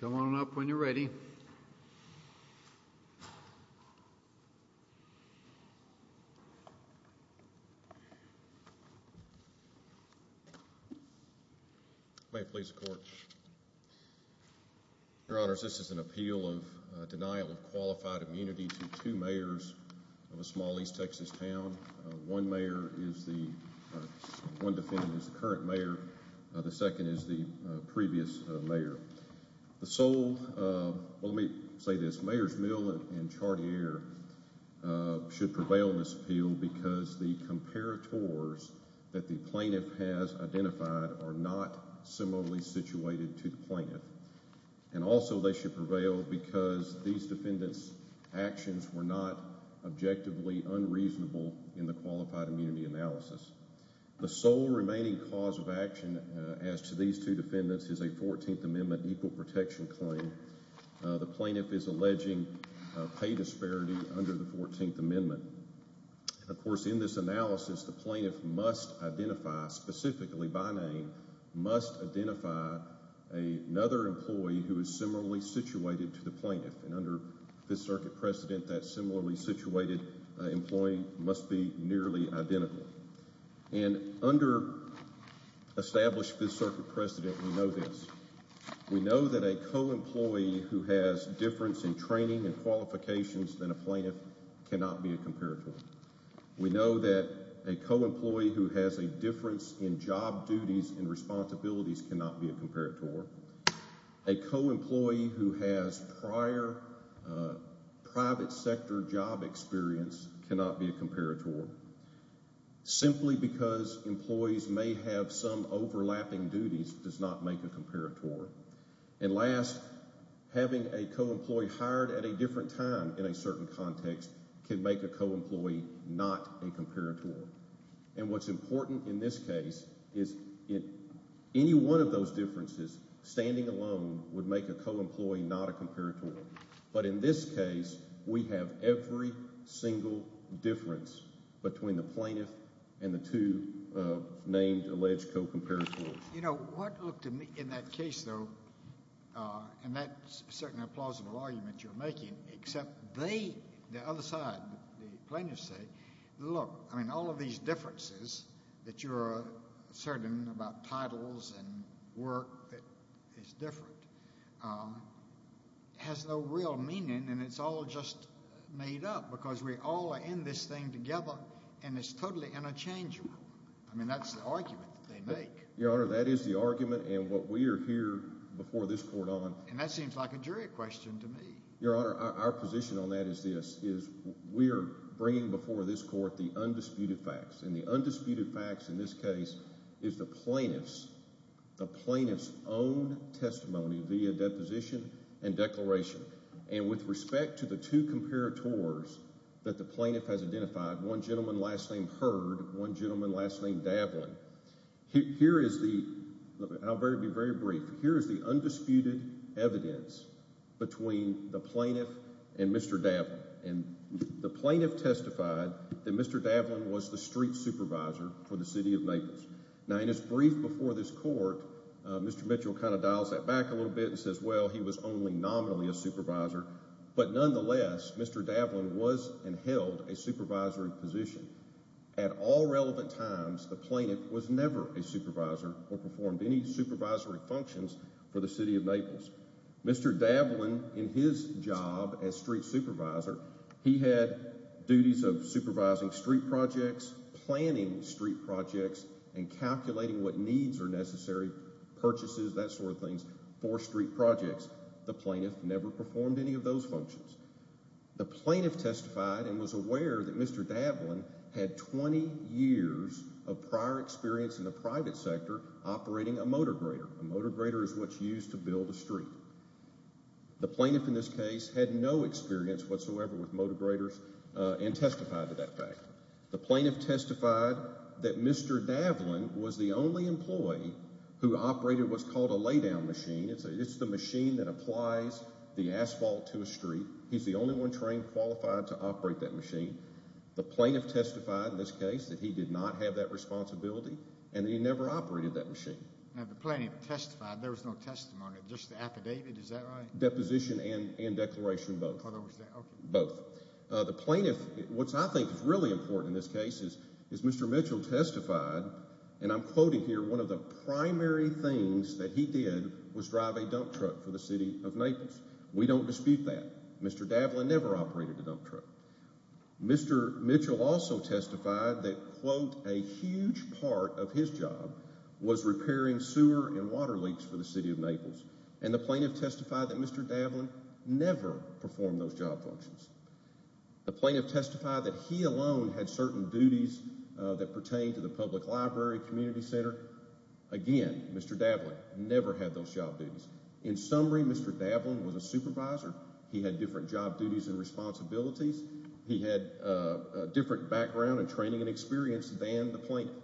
Come on up when you're ready. Thank you. May it please the court. Your honors, this is an appeal of denial of qualified immunity to two mayors of a small east Texas town. One mayor is the, one defendant is the current mayor, the second is the previous mayor. The sole, well let me say this, Mayors Mill and Chartier should prevail in this appeal because the comparators that the plaintiff has identified are not similarly situated to the plaintiff. And also they should prevail because these defendants actions were not objectively unreasonable in the qualified immunity analysis. The sole remaining cause of action as to these two defendants is a 14th Amendment equal protection claim. The plaintiff is alleging pay disparity under the 14th Amendment. Of course in this analysis, the plaintiff must identify, specifically by name, must identify another employee who is similarly situated to the plaintiff. And under 5th Circuit precedent, that similarly situated employee must be nearly identical. And under established 5th Circuit precedent, we know this. We know that a co-employee who has difference in training and qualifications than a plaintiff cannot be a comparator. We know that a co-employee who has a difference in job duties and responsibilities cannot be a comparator. A co-employee who has prior private sector job experience cannot be a comparator. Simply because employees may have some overlapping duties does not make a comparator. And last, having a co-employee hired at a different time in a certain context can make a co-employee not a comparator. And what's important in this case is any one of those differences standing alone would make a co-employee not a comparator. But in this case, we have every single difference between the plaintiff and the two named alleged co-comparators. You know, what looked to me in that case, though, and that's certainly a plausible argument you're making, except they, the other side, the plaintiffs say, look, I mean all of these differences that you're certain about titles and work that is different has no real meaning and it's all just made up because we all are in this thing together and it's totally interchangeable. I mean, that's the argument that they make. Your Honor, that is the argument and what we are here before this court on. And that seems like a jury question to me. Your Honor, our position on that is this, is we're bringing before this court the undisputed facts. And the undisputed facts in this case is the plaintiff's, the plaintiff's own testimony via deposition and declaration. And with respect to the two comparators that the plaintiff has identified, one gentleman last name Hurd, one gentleman last name Dablin, here is the, I'll be very brief, here is the plaintiff and Mr. Dablin. And the plaintiff testified that Mr. Dablin was the street supervisor for the City of Naples. Now in his brief before this court, Mr. Mitchell kind of dials that back a little bit and says, well, he was only nominally a supervisor, but nonetheless, Mr. Dablin was and held a supervisory position. At all relevant times, the plaintiff was never a supervisor or performed any supervisory functions for the City of Naples. Mr. Dablin, in his job as street supervisor, he had duties of supervising street projects, planning street projects, and calculating what needs are necessary, purchases, that sort of thing, for street projects. The plaintiff never performed any of those functions. The plaintiff testified and was aware that Mr. Dablin had 20 years of prior experience in the private sector operating a motor grader. A motor grader is what's used to build a street. The plaintiff in this case had no experience whatsoever with motor graders and testified to that fact. The plaintiff testified that Mr. Dablin was the only employee who operated what's called a lay-down machine. It's the machine that applies the asphalt to a street. He's the only one trained, qualified to operate that machine. The plaintiff testified in this case that he did not have that responsibility and that he never operated that machine. Now, the plaintiff testified, there was no testimony, just the affidavit, is that right? Deposition and declaration both. Both. The plaintiff, what I think is really important in this case, is Mr. Mitchell testified, and I'm quoting here, one of the primary things that he did was drive a dump truck for the city of Naples. We don't dispute that. Mr. Dablin never operated a dump truck. Mr. Mitchell also testified that, quote, a huge part of his job was repairing sewer and water leaks for the city of Naples. And the plaintiff testified that Mr. Dablin never performed those job functions. The plaintiff testified that he alone had certain duties that pertained to the public library, community center. Again, Mr. Dablin never had those job duties. In summary, Mr. Dablin was a supervisor. He had different job duties and responsibilities. He had a different background and training and experience than the plaintiff.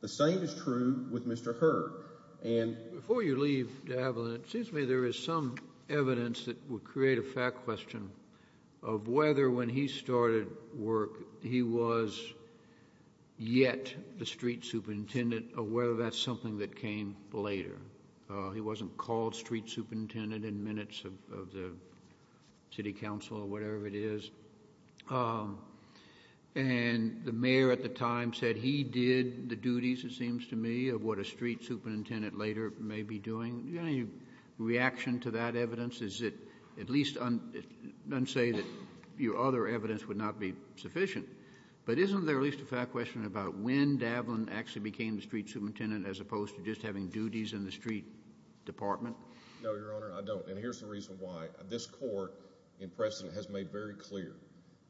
The same is true with Mr. Hurd. Before you leave, Dablin, it seems to me there is some evidence that would create a fact question of whether when he started work, he was yet the street superintendent or whether that's something that came later. He wasn't called street superintendent in minutes of the city council or whatever it is. And the mayor at the time said he did the duties, it seems to me, of what a street superintendent later may be doing. Do you have any reaction to that evidence? Is it at least unsay that your other evidence would not be sufficient? But isn't there at least a fact question about when Dablin actually became the street superintendent as opposed to just having duties in the street department? No, Your Honor, I don't. And here's the reason why. This court in precedent has made very clear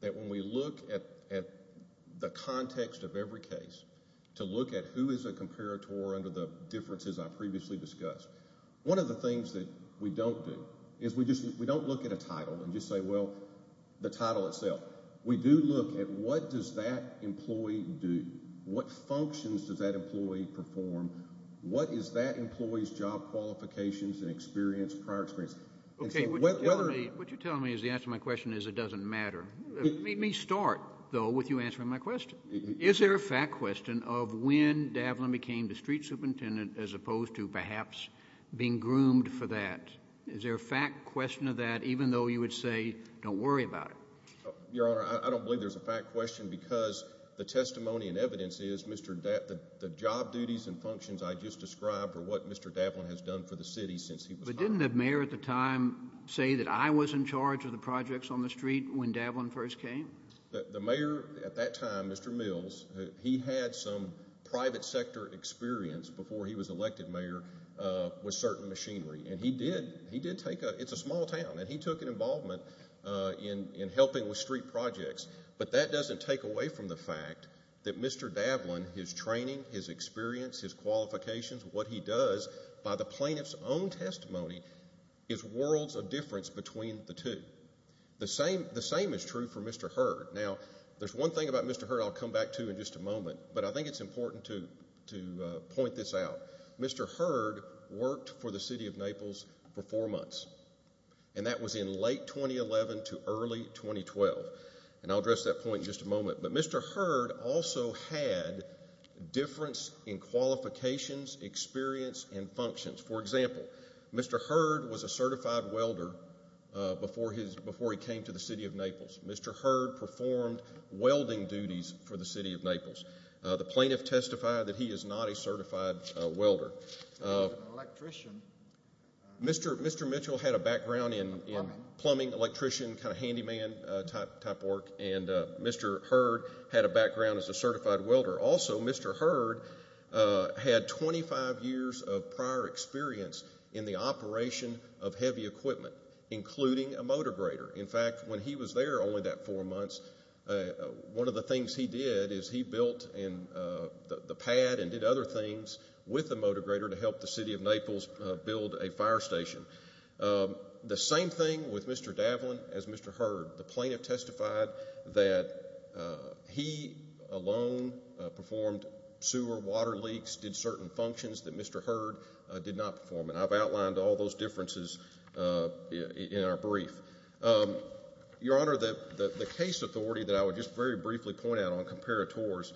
that when we look at the context of every case to look at who is a comparator under the differences I previously discussed, one of the things that we don't do is we don't look at a title and just say, well, the title itself. We do look at what does that employee do? What functions does that employee perform? What is that employee's job qualifications and experience, prior experience? Okay, what you're telling me is the answer to my question is it doesn't matter. Let me start, though, with you answering my question. Is there a fact question of when Dablin became the street superintendent as opposed to perhaps being groomed for that? Is there a fact question of that even though you would say don't worry about it? Your Honor, I don't believe there's a fact question because the testimony and evidence is the job duties and functions I just described are what Mr. Dablin has done for the city since he was hired. But didn't the mayor at the time say that I was in charge of the projects on the street when Dablin first came? The mayor at that time, Mr. Mills, he had some private sector experience before he was elected mayor with certain machinery. And he did take, it's a small town, and he took an involvement in helping with street projects. But that doesn't take away from the fact that Mr. Dablin, his training, his experience, his qualifications, what he does by the plaintiff's own testimony is worlds of difference between the two. The same is true for Mr. Hurd. Now there's one thing about Mr. Hurd I'll come back to in just a moment. But I think it's important to point this out. Mr. Hurd worked for the city of Naples for four months. And that was in late 2011 to early 2012. And I'll address that point in just a moment. But Mr. Hurd also had difference in qualifications, experience, and functions. For example, Mr. Hurd was a certified welder before he came to the city of Naples. Mr. Hurd performed welding duties for the city of Naples. The plaintiff testified that he is not a certified welder. Mr. Mitchell had a background in plumbing, electrician, kind of handyman type work. And Mr. Hurd had a background as a certified welder. Also Mr. Hurd had 25 years of prior experience in the operation of heavy equipment, including a motor grader. In fact, when he was there only that four months, one of the things he did is he built the pad and did other things with the motor grader to help the city of Naples build a fire station. The same thing with Mr. Davlin as Mr. Hurd. The plaintiff testified that he alone performed sewer water leaks, did certain functions that Mr. Hurd did not perform. And I've outlined all those differences in our brief. Your Honor, the case authority that I would just very briefly point out on comparators,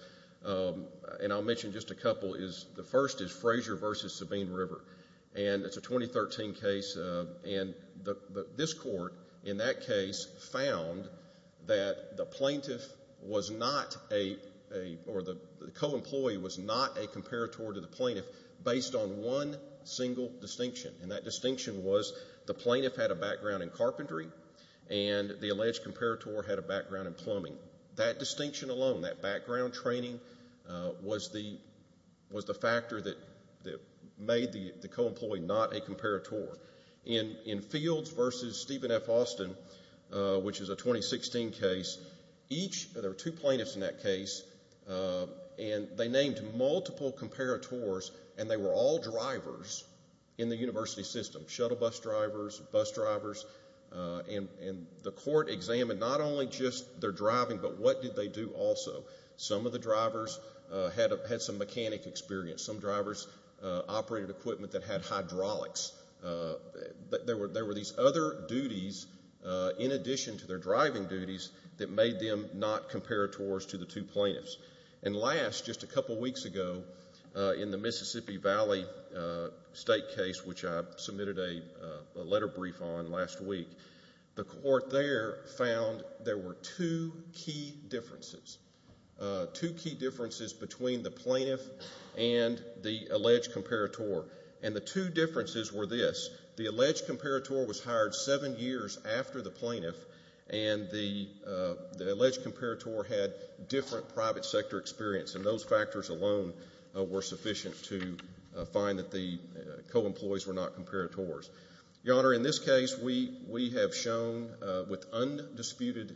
and I'll mention just a couple, is the first is Frazier v. Sabine River. And it's a 2013 case, and this court in that case found that the plaintiff was not a, or the co-employee was not a comparator to the plaintiff based on one single distinction. And that distinction was the plaintiff had a background in carpentry and the alleged comparator had a background in plumbing. That distinction alone, that background training was the factor that made the co-employee not a comparator. In Fields v. Stephen F. Austin, which is a 2016 case, each, there were two plaintiffs in that case, and they named multiple comparators and they were all drivers in the university system. Shuttle bus drivers, bus drivers, and the court examined not only just their driving, but what did they do also. Some of the drivers had some mechanic experience. Some drivers operated equipment that had hydraulics. There were these other duties in addition to their driving duties that made them not comparators to the two plaintiffs. And last, just a couple weeks ago, in the Mississippi Valley State case, which I submitted a letter brief on last week, the court there found there were two key differences, two key differences between the plaintiff and the alleged comparator. And the two differences were this. The alleged comparator was hired seven years after the plaintiff, and the alleged comparator had different private sector experience, and those factors alone were sufficient to find that the co-employees were not comparators. Your Honor, in this case, we have shown with undisputed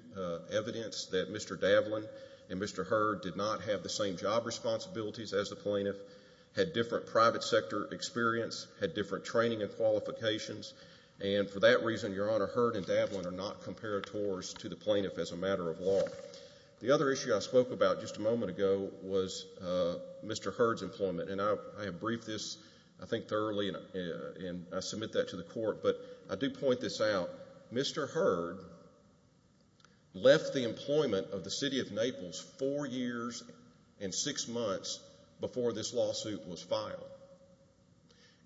evidence that Mr. Davlin and Mr. Hurd did not have the same job responsibilities as the plaintiff, had different private sector experience, had different training and qualifications, and for that reason, Your Honor, Hurd and The other issue I spoke about just a moment ago was Mr. Hurd's employment, and I have briefed this, I think, thoroughly, and I submit that to the court, but I do point this out. Mr. Hurd left the employment of the City of Naples four years and six months before this lawsuit was filed.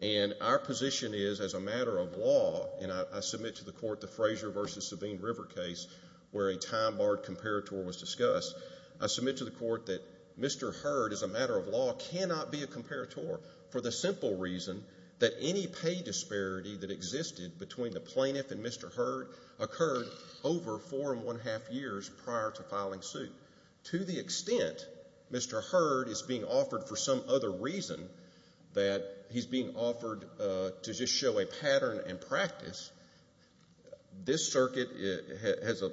And our position is, as a matter of law, and I submit to the court the Frazier v. Sabine River case where a time-barred comparator was discussed, I submit to the court that Mr. Hurd, as a matter of law, cannot be a comparator for the simple reason that any pay disparity that existed between the plaintiff and Mr. Hurd occurred over four and one-half years prior to filing suit. To the extent Mr. Hurd is being offered for some other reason, that he's being offered to just show a pattern and practice, this circuit has a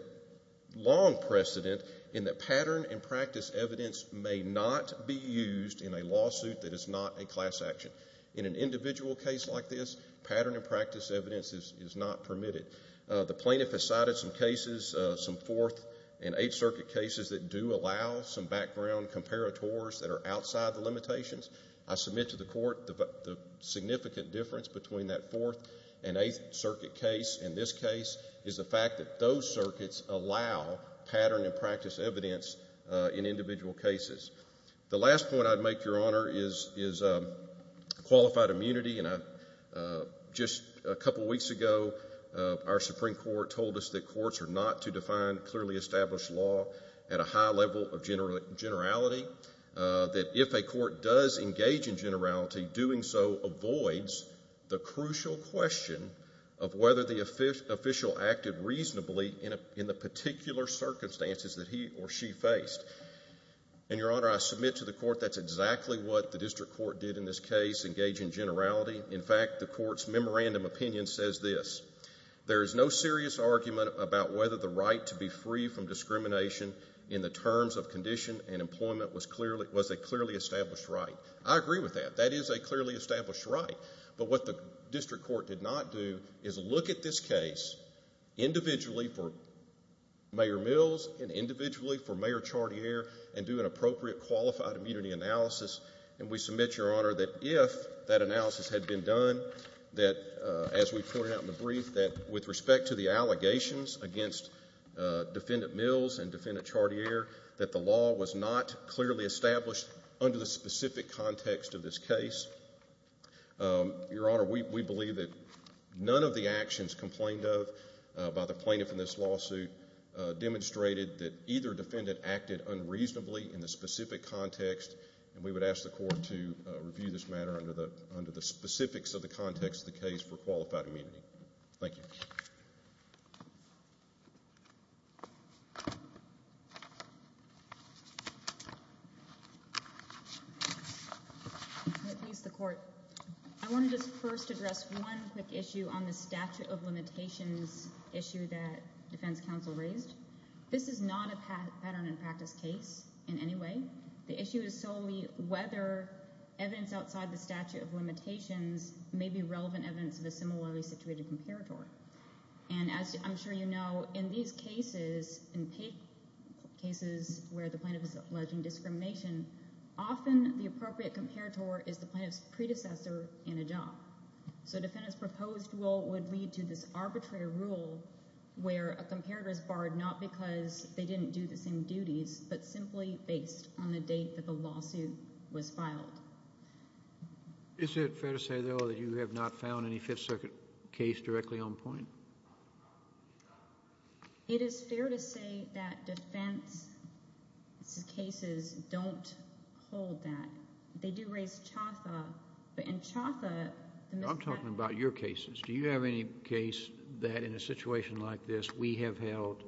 long precedent in that pattern and practice evidence may not be used in a lawsuit that is not a class action. In an individual case like this, pattern and practice evidence is not permitted. The plaintiff has cited some cases, some Fourth and Eighth Circuit cases, that do allow some background comparators that are outside the limitations. I submit to the court the significant difference between that Fourth and Eighth Circuit case and this case is the fact that those circuits allow pattern and practice evidence in individual cases. The last point I'd make, Your Honor, is qualified immunity. Just a couple weeks ago, our Supreme Court told us that courts are not to define clearly because engaging generality, doing so, avoids the crucial question of whether the official acted reasonably in the particular circumstances that he or she faced. And Your Honor, I submit to the court that's exactly what the district court did in this case, engaging generality. In fact, the court's memorandum opinion says this, there is no serious argument about whether the right to be free from discrimination in the terms of condition and employment was a clearly established right. I agree with that. That is a clearly established right. But what the district court did not do is look at this case individually for Mayor Mills and individually for Mayor Chartier and do an appropriate qualified immunity analysis. And we submit, Your Honor, that if that analysis had been done, that as we pointed out in the brief, that with respect to the allegations against Defendant Mills and Defendant Chartier, that the law was not clearly established under the specific context of this case. Your Honor, we believe that none of the actions complained of by the plaintiff in this lawsuit demonstrated that either defendant acted unreasonably in the specific context, and we would ask the court to review this matter under the specifics of the context of the case for qualified immunity. Thank you. Thank you, Your Honor. I want to please the court. I want to just first address one quick issue on the statute of limitations issue that defense counsel raised. This is not a pattern and practice case in any way. The issue is solely whether evidence outside the statute of limitations may be relevant evidence of a similarly situated comparator. And as I'm sure you know, in these cases, in cases where the plaintiff is alleging discrimination, often the appropriate comparator is the plaintiff's predecessor in a job. So a defendant's proposed rule would lead to this arbitrary rule where a comparator is barred not because they didn't do the same duties, but simply based on the date that the lawsuit was filed. Is it fair to say, though, that you have not found any Fifth Circuit case directly on point? It is fair to say that defense cases don't hold that. They do raise chauffeur, but in chauffeur... I'm talking about your cases. Do you have any case that in a situation like this, we have held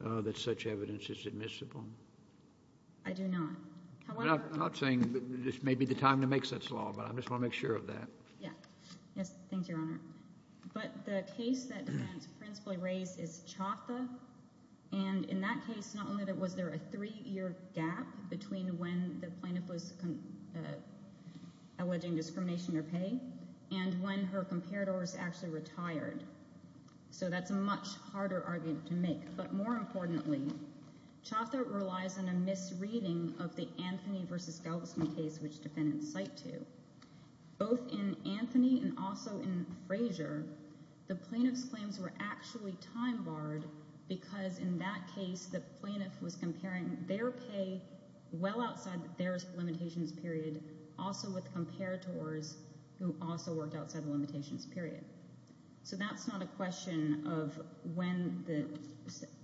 that such evidence is admissible? I do not. I'm not saying this may be the time to make such law, but I just want to make sure of that. Yes. Thank you, Your Honor. But the case that defense principally raised is chauffeur, and in that case, not only was there a three-year gap between when the plaintiff was alleging discrimination or pay and when her comparator was actually retired, so that's a much harder argument to make, but more importantly, chauffeur relies on a misreading of the Anthony v. Galveston case, which defendants cite to. Both in Anthony and also in Frazier, the plaintiff's claims were actually time-barred because in that case, the plaintiff was comparing their pay well outside their limitations period also with comparators who also worked outside the limitations period. So that's not a question of when the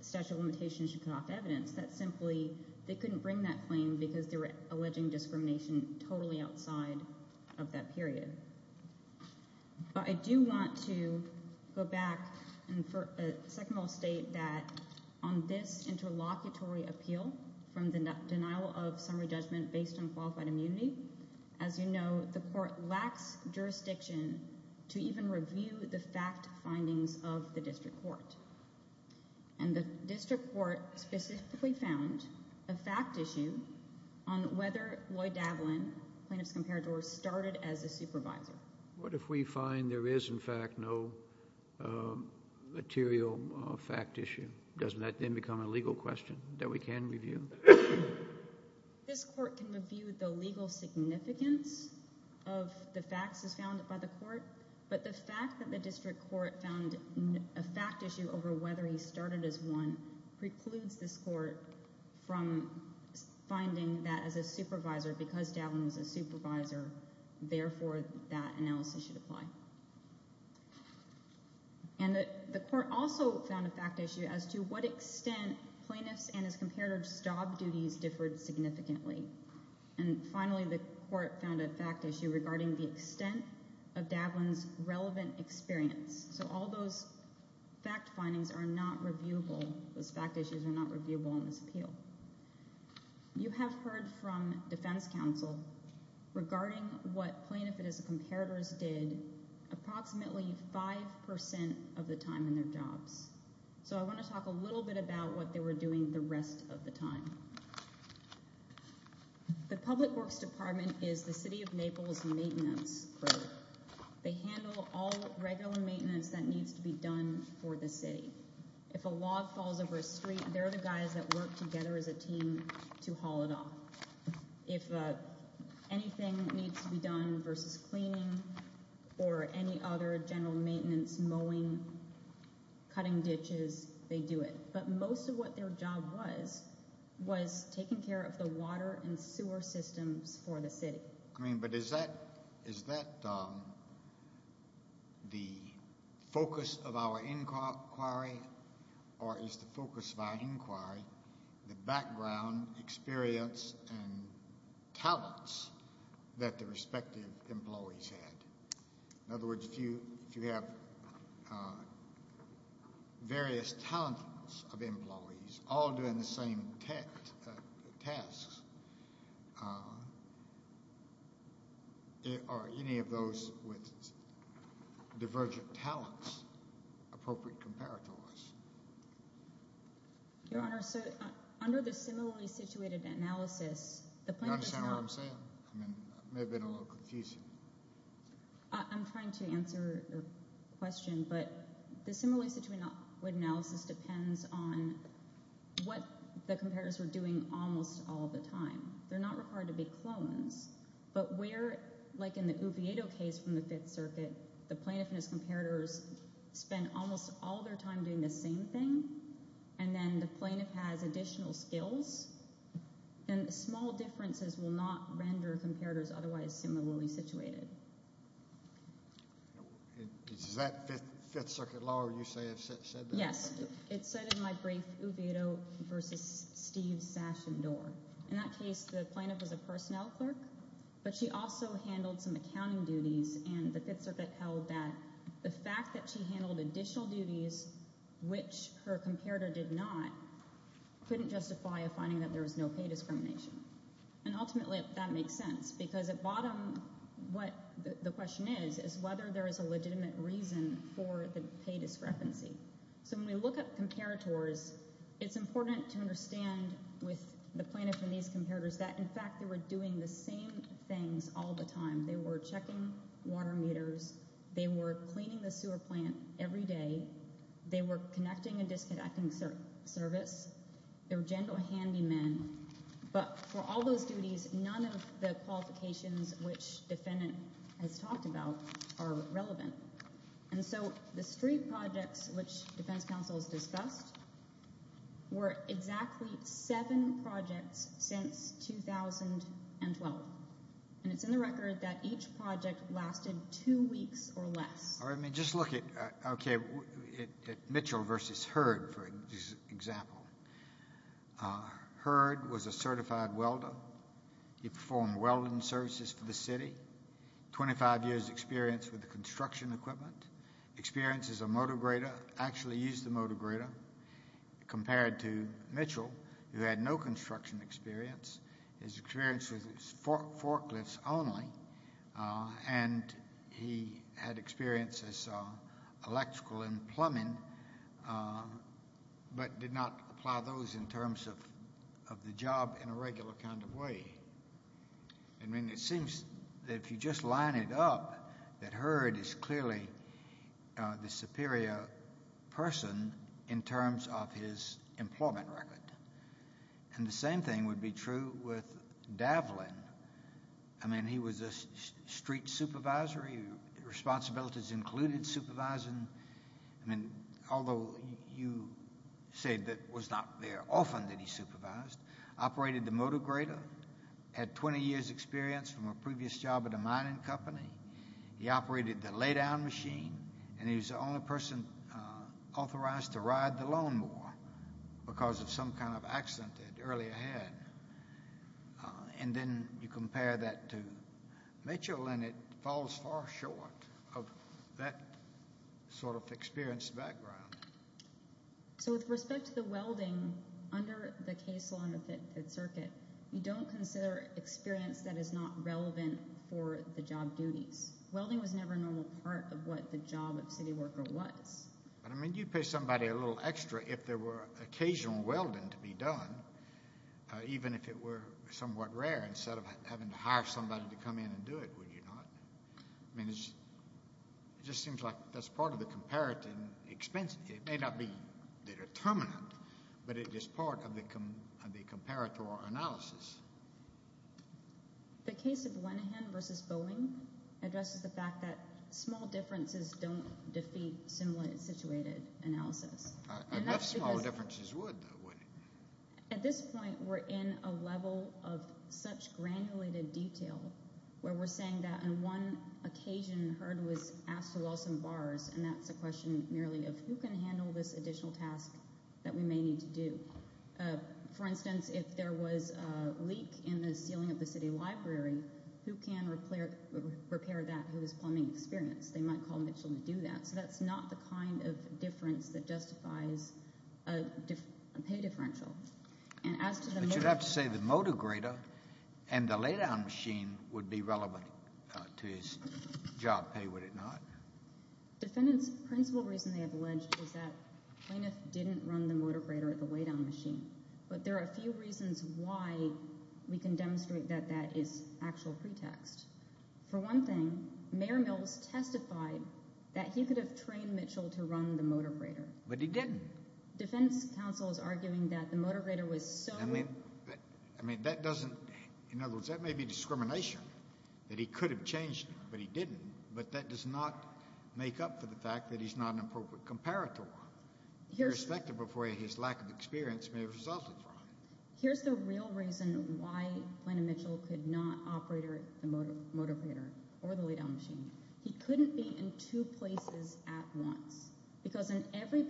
statute of limitations should cut off evidence. That's simply, they couldn't bring that claim because they were alleging discrimination totally outside of that period. But I do want to go back and for a second I'll state that on this interlocutory appeal from the denial of summary judgment based on qualified immunity, as you know, the court lacks jurisdiction to even review the fact findings of the district court. And the district court specifically found a fact issue on whether Lloyd Davlin, the plaintiff's comparator, started as a supervisor. What if we find there is in fact no material fact issue? Doesn't that then become a legal question that we can review? This court can review the legal significance of the facts as found by the court, but the fact that the district court found a fact issue over whether he started as one precludes this court from finding that as a supervisor, because Davlin was a supervisor, therefore that analysis should apply. And the court also found a fact issue as to what extent plaintiff's and his comparator's job duties differed significantly. And finally the court found a fact issue regarding the extent of Davlin's relevant experience. So all those fact findings are not reviewable, those fact issues are not reviewable in this appeal. You have heard from defense counsel regarding what plaintiff and his comparators did approximately 5% of the time in their jobs. So I want to talk a little bit about what they were doing the rest of the time. The public works department is the city of Naples maintenance group. They handle all regular maintenance that needs to be done for the city. If a log falls over a street, they're the guys that work together as a team to haul it off. If anything needs to be done versus cleaning or any other general maintenance, mowing, cutting ditches, they do it. But most of what their job was, was taking care of the water and sewer systems for the city. But is that the focus of our inquiry or is the focus of our inquiry the background experience and talents that the respective employees had? In other words, if you have various talents of employees all doing the same tasks, are any of those with divergent talents appropriate comparators? Your Honor, under the similarly situated analysis, the plaintiff's job... You understand what I'm saying? It may have been a little confusing. I'm trying to answer your question, but the similarly situated analysis depends on what the comparators were doing almost all the time. They're not required to be clones. But where, like in the Oviedo case from the 5th Circuit, the plaintiff and his comparators spend almost all their time doing the same thing, and then the plaintiff has additional skills, and the small differences will not render comparators otherwise similarly situated. Is that 5th Circuit law where you say it said that? Yes. It said in my brief, Oviedo versus Steve Sash and Dorr. In that case, the plaintiff was a personnel clerk, but she also handled some accounting duties, and the 5th Circuit held that the fact that she handled additional duties, which her comparator did not, couldn't justify a finding that there was no pay discrimination. And ultimately, that makes sense, because at bottom, what the question is, is whether there is a legitimate reason for the pay discrepancy. So when we look at comparators, it's important to understand with the plaintiff and these comparators that, in fact, they were doing the same things all the time. They were checking water meters. They were cleaning the sewer plant every day. They were connecting and disconnecting service. They were general handymen. But for all those duties, none of the qualifications which the defendant has talked about are relevant. And so the street projects, which defense counsels discussed, were exactly seven projects since 2012. And it's in the record that each project lasted two weeks or less. Just look at Mitchell versus Hurd, for example. Hurd was a certified welder. He performed welding services for the city. 25 years experience with the construction equipment. Experiences a motor grader, actually used the motor grader. Compared to Mitchell, who had no construction experience, his experience was with forklifts only, and he had experiences in electrical and plumbing, but did not apply those in terms of the job in a regular kind of way. I mean, it seems that if you just line it up, that Hurd is clearly the superior person in terms of his employment record. And the same thing would be true with Davlin. I mean, he was a street supervisor. Responsibilities included supervising. I mean, although you say that it was not very often that he supervised. Operated the motor grader, had 20 years experience from a previous job at a mining company. He operated the lay-down machine, and he was the only person authorized to ride the lawnmower because of some kind of accident that earlier he had. And then you compare that to Mitchell, and it falls far short of that sort of experience background. So with respect to the welding, under the case law in the Fifth Circuit, you don't consider experience that is not relevant for the job duties. Welding was never a normal part of what the job of city worker was. But I mean, you'd pay somebody a little extra if there were occasional welding to be done, even if it were somewhat rare, instead of having to hire somebody to come in and do it, would you not? I mean, it just seems like that's part of the comparative expense. It may not be the determinant, but it is part of the comparative analysis. The case of Lenihan versus Bowling addresses the fact that small differences don't defeat similar situated analysis. Enough small differences would, though, wouldn't it? At this point, we're in a level of such granulated detail where we're saying that on one occasion, Hurd was asked to weld some bars, and that's a question merely of who can handle this additional task that we may need to do. For instance, if there was a leak in the ceiling of the city library, who can repair that? Who has plumbing experience? They might call Mitchell to do that. So that's not the kind of difference that justifies a pay differential. But you'd have to say the motor grater and the lay-down machine would be relevant to his job pay, would it not? Defendant's principal reason they have alleged is that plaintiff didn't run the motor grater at the lay-down machine. But there are a few reasons why we can demonstrate that that is actual pretext. For one thing, Mayor Mills testified that he could have trained Mitchell to run the motor grater. But he didn't. Defendant's counsel is arguing that the motor grater was so— I mean, that doesn't—in other words, that may be discrimination, that he could have changed, but he didn't. But that does not make up for the fact that he's not an appropriate comparator, irrespective of where his lack of experience may have resulted from. Here's the real reason why Plaintiff Mitchell could not operate the motor grater or the lay-down machine. He couldn't be in two places at once. Because in every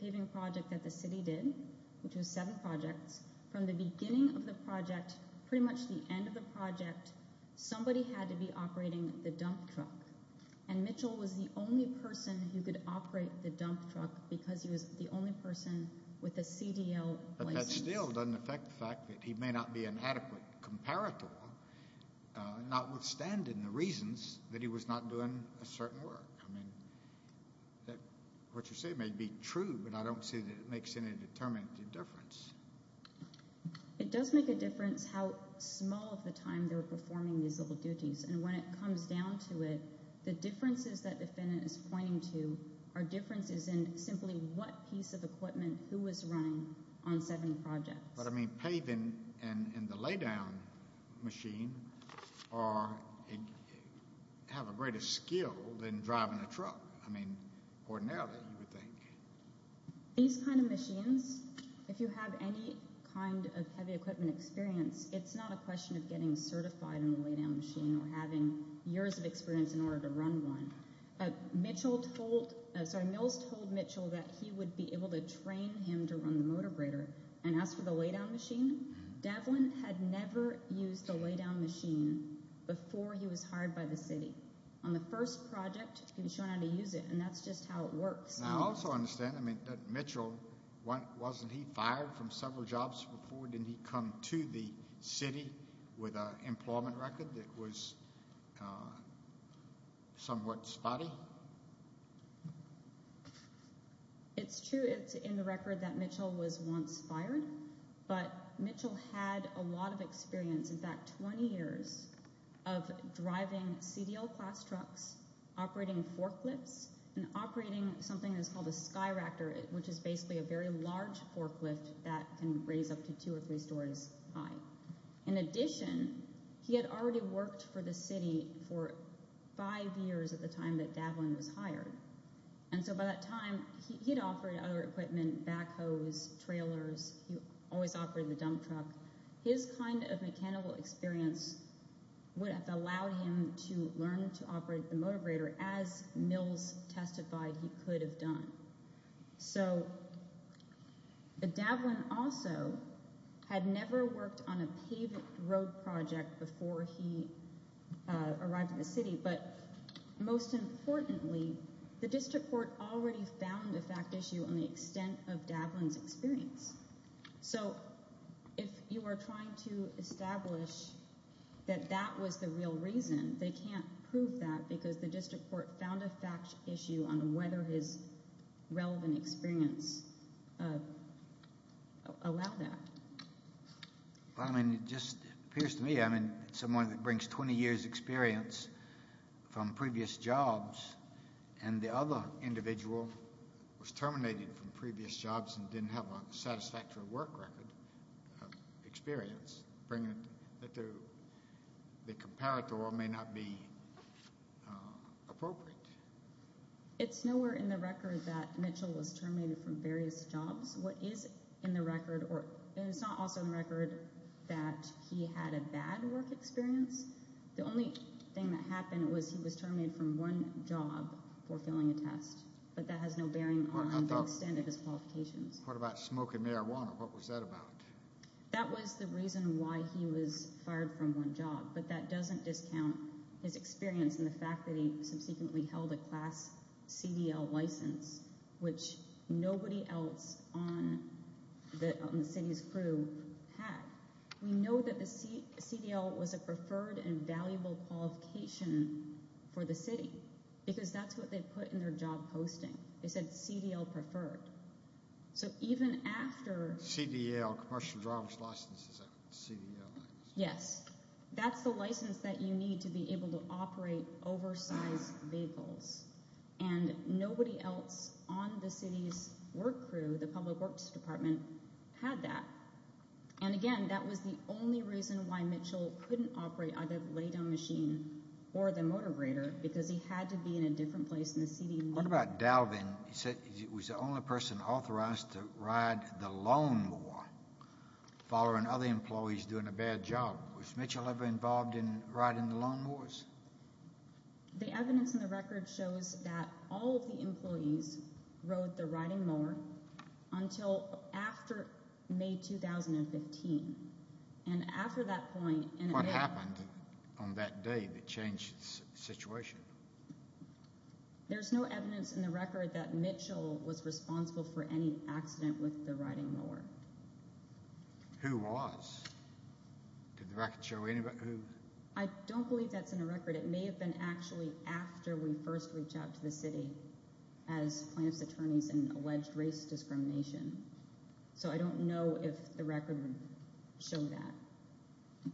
paving project that the city did, which was seven projects, from the beginning of the project, pretty much the end of the project, somebody had to be operating the dump truck. And Mitchell was the only person who could operate the dump truck because he was the only person with a CDL license. But that still doesn't affect the fact that he may not be an adequate comparator, notwithstanding the reasons that he was not doing a certain work. I mean, what you say may be true, but I don't see that it makes any determined difference. It does make a difference how small of a time they were performing these little duties. And when it comes down to it, the differences that the defendant is pointing to are differences in simply what piece of equipment, who was running on seven projects. But, I mean, paving and the lay-down machine have a greater skill than driving a truck. I mean, ordinarily, you would think. These kind of machines, if you have any kind of heavy equipment experience, it's not a question of getting certified in the lay-down machine or having years of experience in order to run one. Mitchell told, sorry, Mills told Mitchell that he would be able to train him to run the motor grater and ask for the lay-down machine. Devlin had never used the lay-down machine before he was hired by the city. On the first project, he was shown how to use it, and that's just how it works. I also understand, I mean, that Mitchell, wasn't he fired from several jobs before? Didn't he come to the city with an employment record that was somewhat spotty? Well, it's true it's in the record that Mitchell was once fired, but Mitchell had a lot of experience, in fact 20 years, of driving CDL class trucks, operating forklifts, and operating something that's called a Skyractor, which is basically a very large forklift that can raise up to two or three stories high. In addition, he had already worked for the city for five years at the time that Devlin was hired, and so by that time, he'd offered other equipment, backhoes, trailers. He always operated the dump truck. His kind of mechanical experience would have allowed him to learn to operate the motor grater, as Mills testified he could have done. So Devlin also had never worked on a paved road project before he arrived in the city, but most importantly, the district court already found a fact issue on the extent of Devlin's experience. So if you are trying to establish that that was the real reason, they can't prove that because the district court found a fact issue on whether his relevant experience allowed that. Well, I mean, it just appears to me, I mean, someone that brings 20 years' experience from previous jobs and the other individual was terminated from previous jobs and didn't have a satisfactory work record experience, the comparator may not be appropriate. It's nowhere in the record that Mitchell was terminated from various jobs. What is in the record, and it's not also in the record that he had a bad work experience. The only thing that happened was he was terminated from one job for failing a test, but that has no bearing on the extent of his qualifications. What about smoking marijuana? What was that about? That was the reason why he was fired from one job, but that doesn't discount his experience and the fact that he subsequently held a class CDL license, which nobody else on the city's crew had. We know that the CDL was a preferred and valuable qualification for the city because that's what they put in their job posting. They said CDL preferred. CDL, commercial driver's license, is that what CDL is? Yes, that's the license that you need to be able to operate oversized vehicles, and nobody else on the city's work crew, the public works department, had that. And again, that was the only reason why Mitchell couldn't operate either the lay-down machine or the motor grader because he had to be in a different place in the city. What about Dalvin? He said he was the only person authorized to ride the lawn mower following other employees doing a bad job. Was Mitchell ever involved in riding the lawn mowers? The evidence in the record shows that all of the employees rode the riding mower until after May 2015, and after that point— What happened on that day that changed the situation? There's no evidence in the record that Mitchell was responsible for any accident with the riding mower. Who was? Did the record show anybody? I don't believe that's in the record. It may have been actually after we first reached out to the city as plaintiff's attorneys in alleged race discrimination. So I don't know if the record would show that.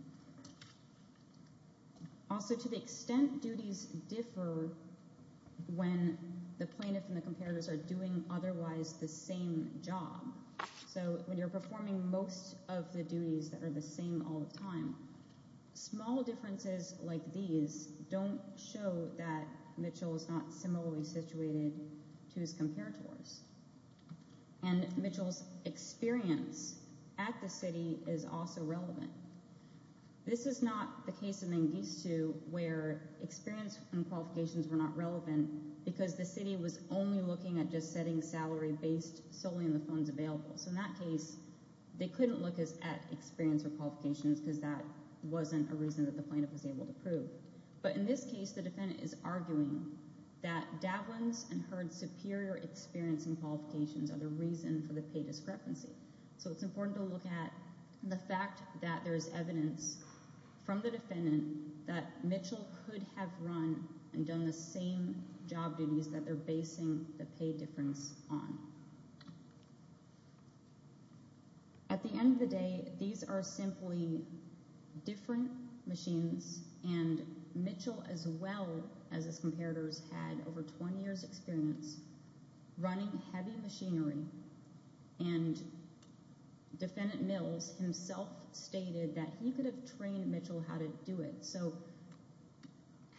Also, to the extent duties differ when the plaintiff and the comparators are doing otherwise the same job. So when you're performing most of the duties that are the same all the time, small differences like these don't show that Mitchell is not similarly situated to his comparators. And Mitchell's experience at the city is also relevant. This is not the case in Mengistu where experience and qualifications were not relevant because the city was only looking at just setting salary based solely on the funds available. So in that case, they couldn't look at experience or qualifications because that wasn't a reason that the plaintiff was able to prove. But in this case, the defendant is arguing that Davlin's and Herd's superior experience and qualifications are the reason for the pay discrepancy. So it's important to look at the fact that there's evidence from the defendant that Mitchell could have run and done the same job duties that they're basing the pay difference on. At the end of the day, these are simply different machines, and Mitchell as well as his comparators had over 20 years' experience running heavy machinery, and Defendant Mills himself stated that he could have trained Mitchell how to do it. So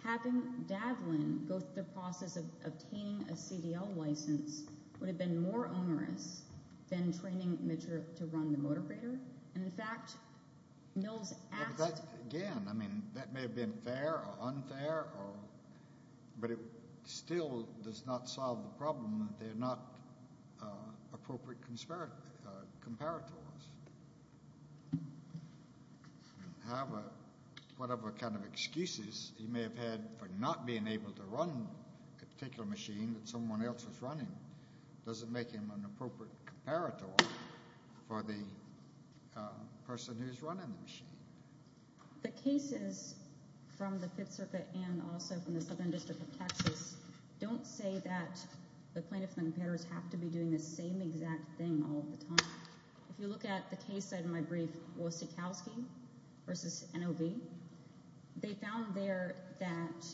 having Davlin go through the process of obtaining a CDL license would have been more onerous than training Mitchell to run the motor freighter. And in fact, Mills asked— Again, I mean that may have been fair or unfair, but it still does not solve the problem that they're not appropriate comparators. However, whatever kind of excuses he may have had for not being able to run a particular machine that someone else was running doesn't make him an appropriate comparator for the person who's running the machine. The cases from the Fifth Circuit and also from the Southern District of Texas don't say that the plaintiffs and the comparators have to be doing the same exact thing all the time. If you look at the case side of my brief, Wosikowski v. NOV, they found there that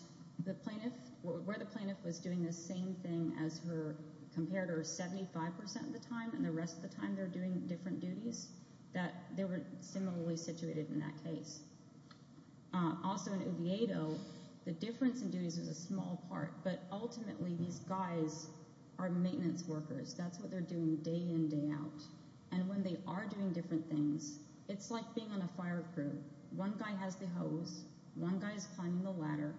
where the plaintiff was doing the same thing as her comparator 75 percent of the time and the rest of the time they were doing different duties, that they were similarly situated in that case. Also in Oviedo, the difference in duties was a small part, but ultimately these guys are maintenance workers. That's what they're doing day in, day out. And when they are doing different things, it's like being on a fire crew. One guy has the hose, one guy is climbing the ladder,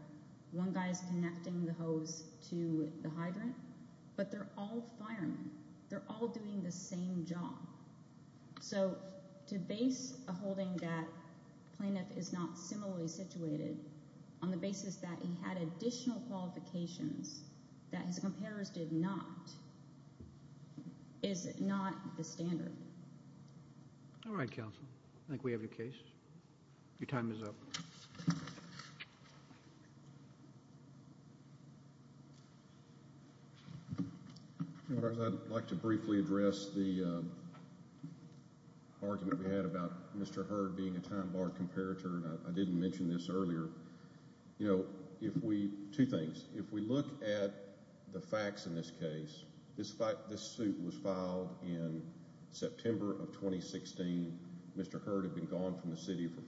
one guy is connecting the hose to the hydrant, but they're all firemen. They're all doing the same job. So to base a holding that plaintiff is not similarly situated on the basis that he had additional qualifications that his comparators did not is not the standard. All right, counsel. I think we have your case. Your time is up. I'd like to briefly address the argument we had about Mr. Hurd being a time bar comparator, and I didn't mention this earlier. Two things. If we look at the facts in this case, this suit was filed in September of 2016. Mr. Hurd had been gone from the city for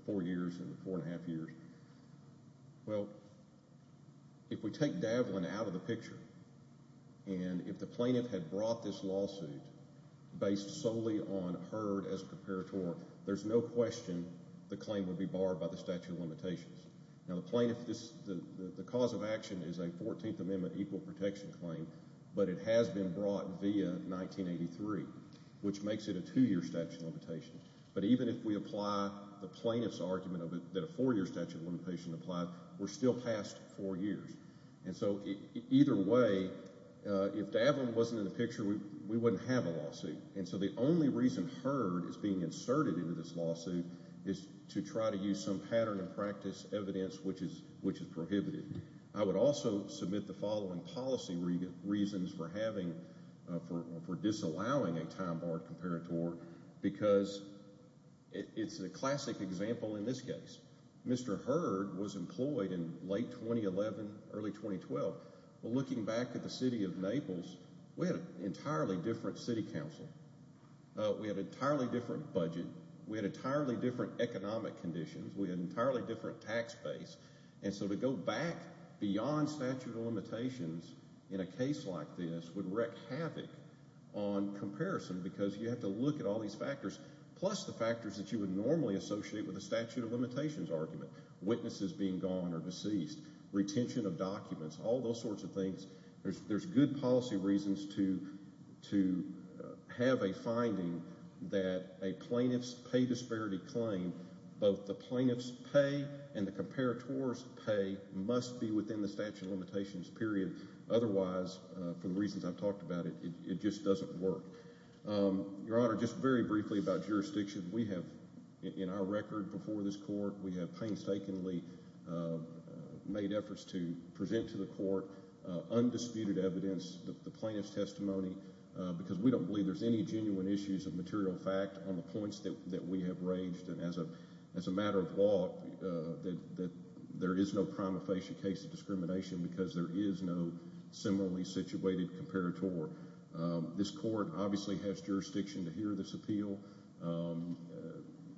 four years and four and a half years. Well, if we take Davlin out of the picture, and if the plaintiff had brought this lawsuit based solely on Hurd as a comparator, there's no question the claim would be barred by the statute of limitations. Now, the plaintiff, the cause of action is a 14th Amendment equal protection claim, but it has been brought via 1983, which makes it a two-year statute of limitations. But even if we apply the plaintiff's argument that a four-year statute of limitations applies, we're still past four years. And so either way, if Davlin wasn't in the picture, we wouldn't have a lawsuit. And so the only reason Hurd is being inserted into this lawsuit is to try to use some pattern and practice evidence which is prohibited. I would also submit the following policy reasons for disallowing a time bar comparator because it's a classic example in this case. Mr. Hurd was employed in late 2011, early 2012. Well, looking back at the city of Naples, we had an entirely different city council. We had an entirely different budget. We had entirely different economic conditions. We had an entirely different tax base. And so to go back beyond statute of limitations in a case like this would wreak havoc on comparison because you have to look at all these factors, plus the factors that you would normally associate with a statute of limitations argument, witnesses being gone or deceased, retention of documents, all those sorts of things. There's good policy reasons to have a finding that a plaintiff's pay disparity claim, both the plaintiff's pay and the comparator's pay, must be within the statute of limitations period. Otherwise, for the reasons I've talked about, it just doesn't work. Your Honor, just very briefly about jurisdiction. We have in our record before this court, we have painstakingly made efforts to present to the court undisputed evidence, the plaintiff's testimony, because we don't believe there's any genuine issues of material fact on the points that we have raised. And as a matter of law, there is no prima facie case of discrimination because there is no similarly situated comparator. Therefore, this court obviously has jurisdiction to hear this appeal.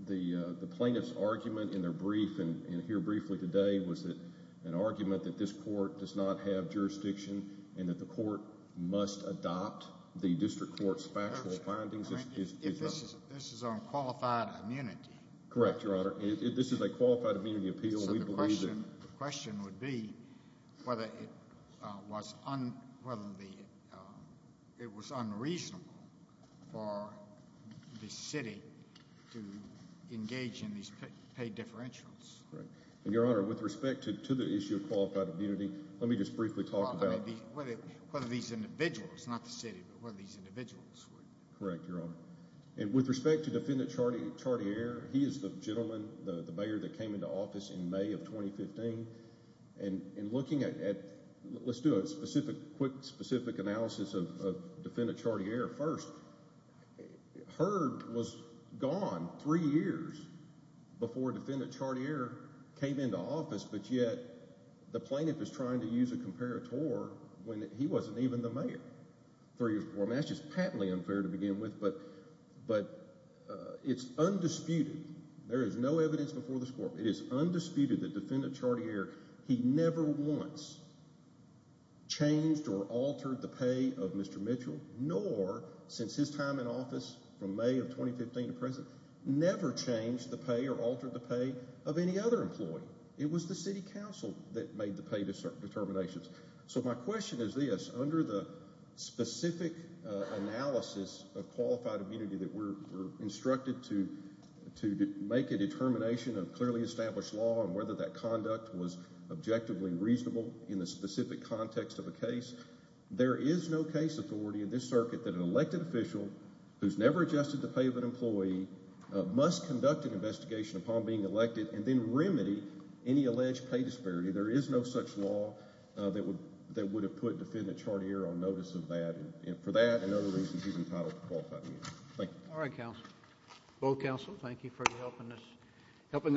The plaintiff's argument in their brief and here briefly today was an argument that this court does not have jurisdiction and that the court must adopt the district court's factual findings. This is on qualified immunity. Correct, Your Honor. This is a qualified immunity appeal. The question would be whether it was unreasonable for the city to engage in these paid differentials. Your Honor, with respect to the issue of qualified immunity, let me just briefly talk about whether these individuals, not the city, but whether these individuals would Correct, Your Honor. And with respect to Defendant Chartier, he is the gentleman, the mayor that came into office in May of 2015. And looking at – let's do a quick specific analysis of Defendant Chartier first. Herd was gone three years before Defendant Chartier came into office, but yet the plaintiff is trying to use a comparator when he wasn't even the mayor three years before. And that's just patently unfair to begin with, but it's undisputed. There is no evidence before this court. It is undisputed that Defendant Chartier, he never once changed or altered the pay of Mr. Mitchell, nor since his time in office from May of 2015 to present, never changed the pay or altered the pay of any other employee. It was the city council that made the pay determinations. So my question is this. Under the specific analysis of qualified immunity that we're instructed to make a determination of clearly established law and whether that conduct was objectively reasonable in the specific context of a case, there is no case authority in this circuit that an elected official who's never adjusted the pay of an employee must conduct an investigation upon being elected and then remedy any alleged pay disparity. There is no such law that would have put Defendant Chartier on notice of that. And for that and other reasons, he's entitled to qualified immunity. Thank you. All right, counsel. Both counsel, thank you for helping us.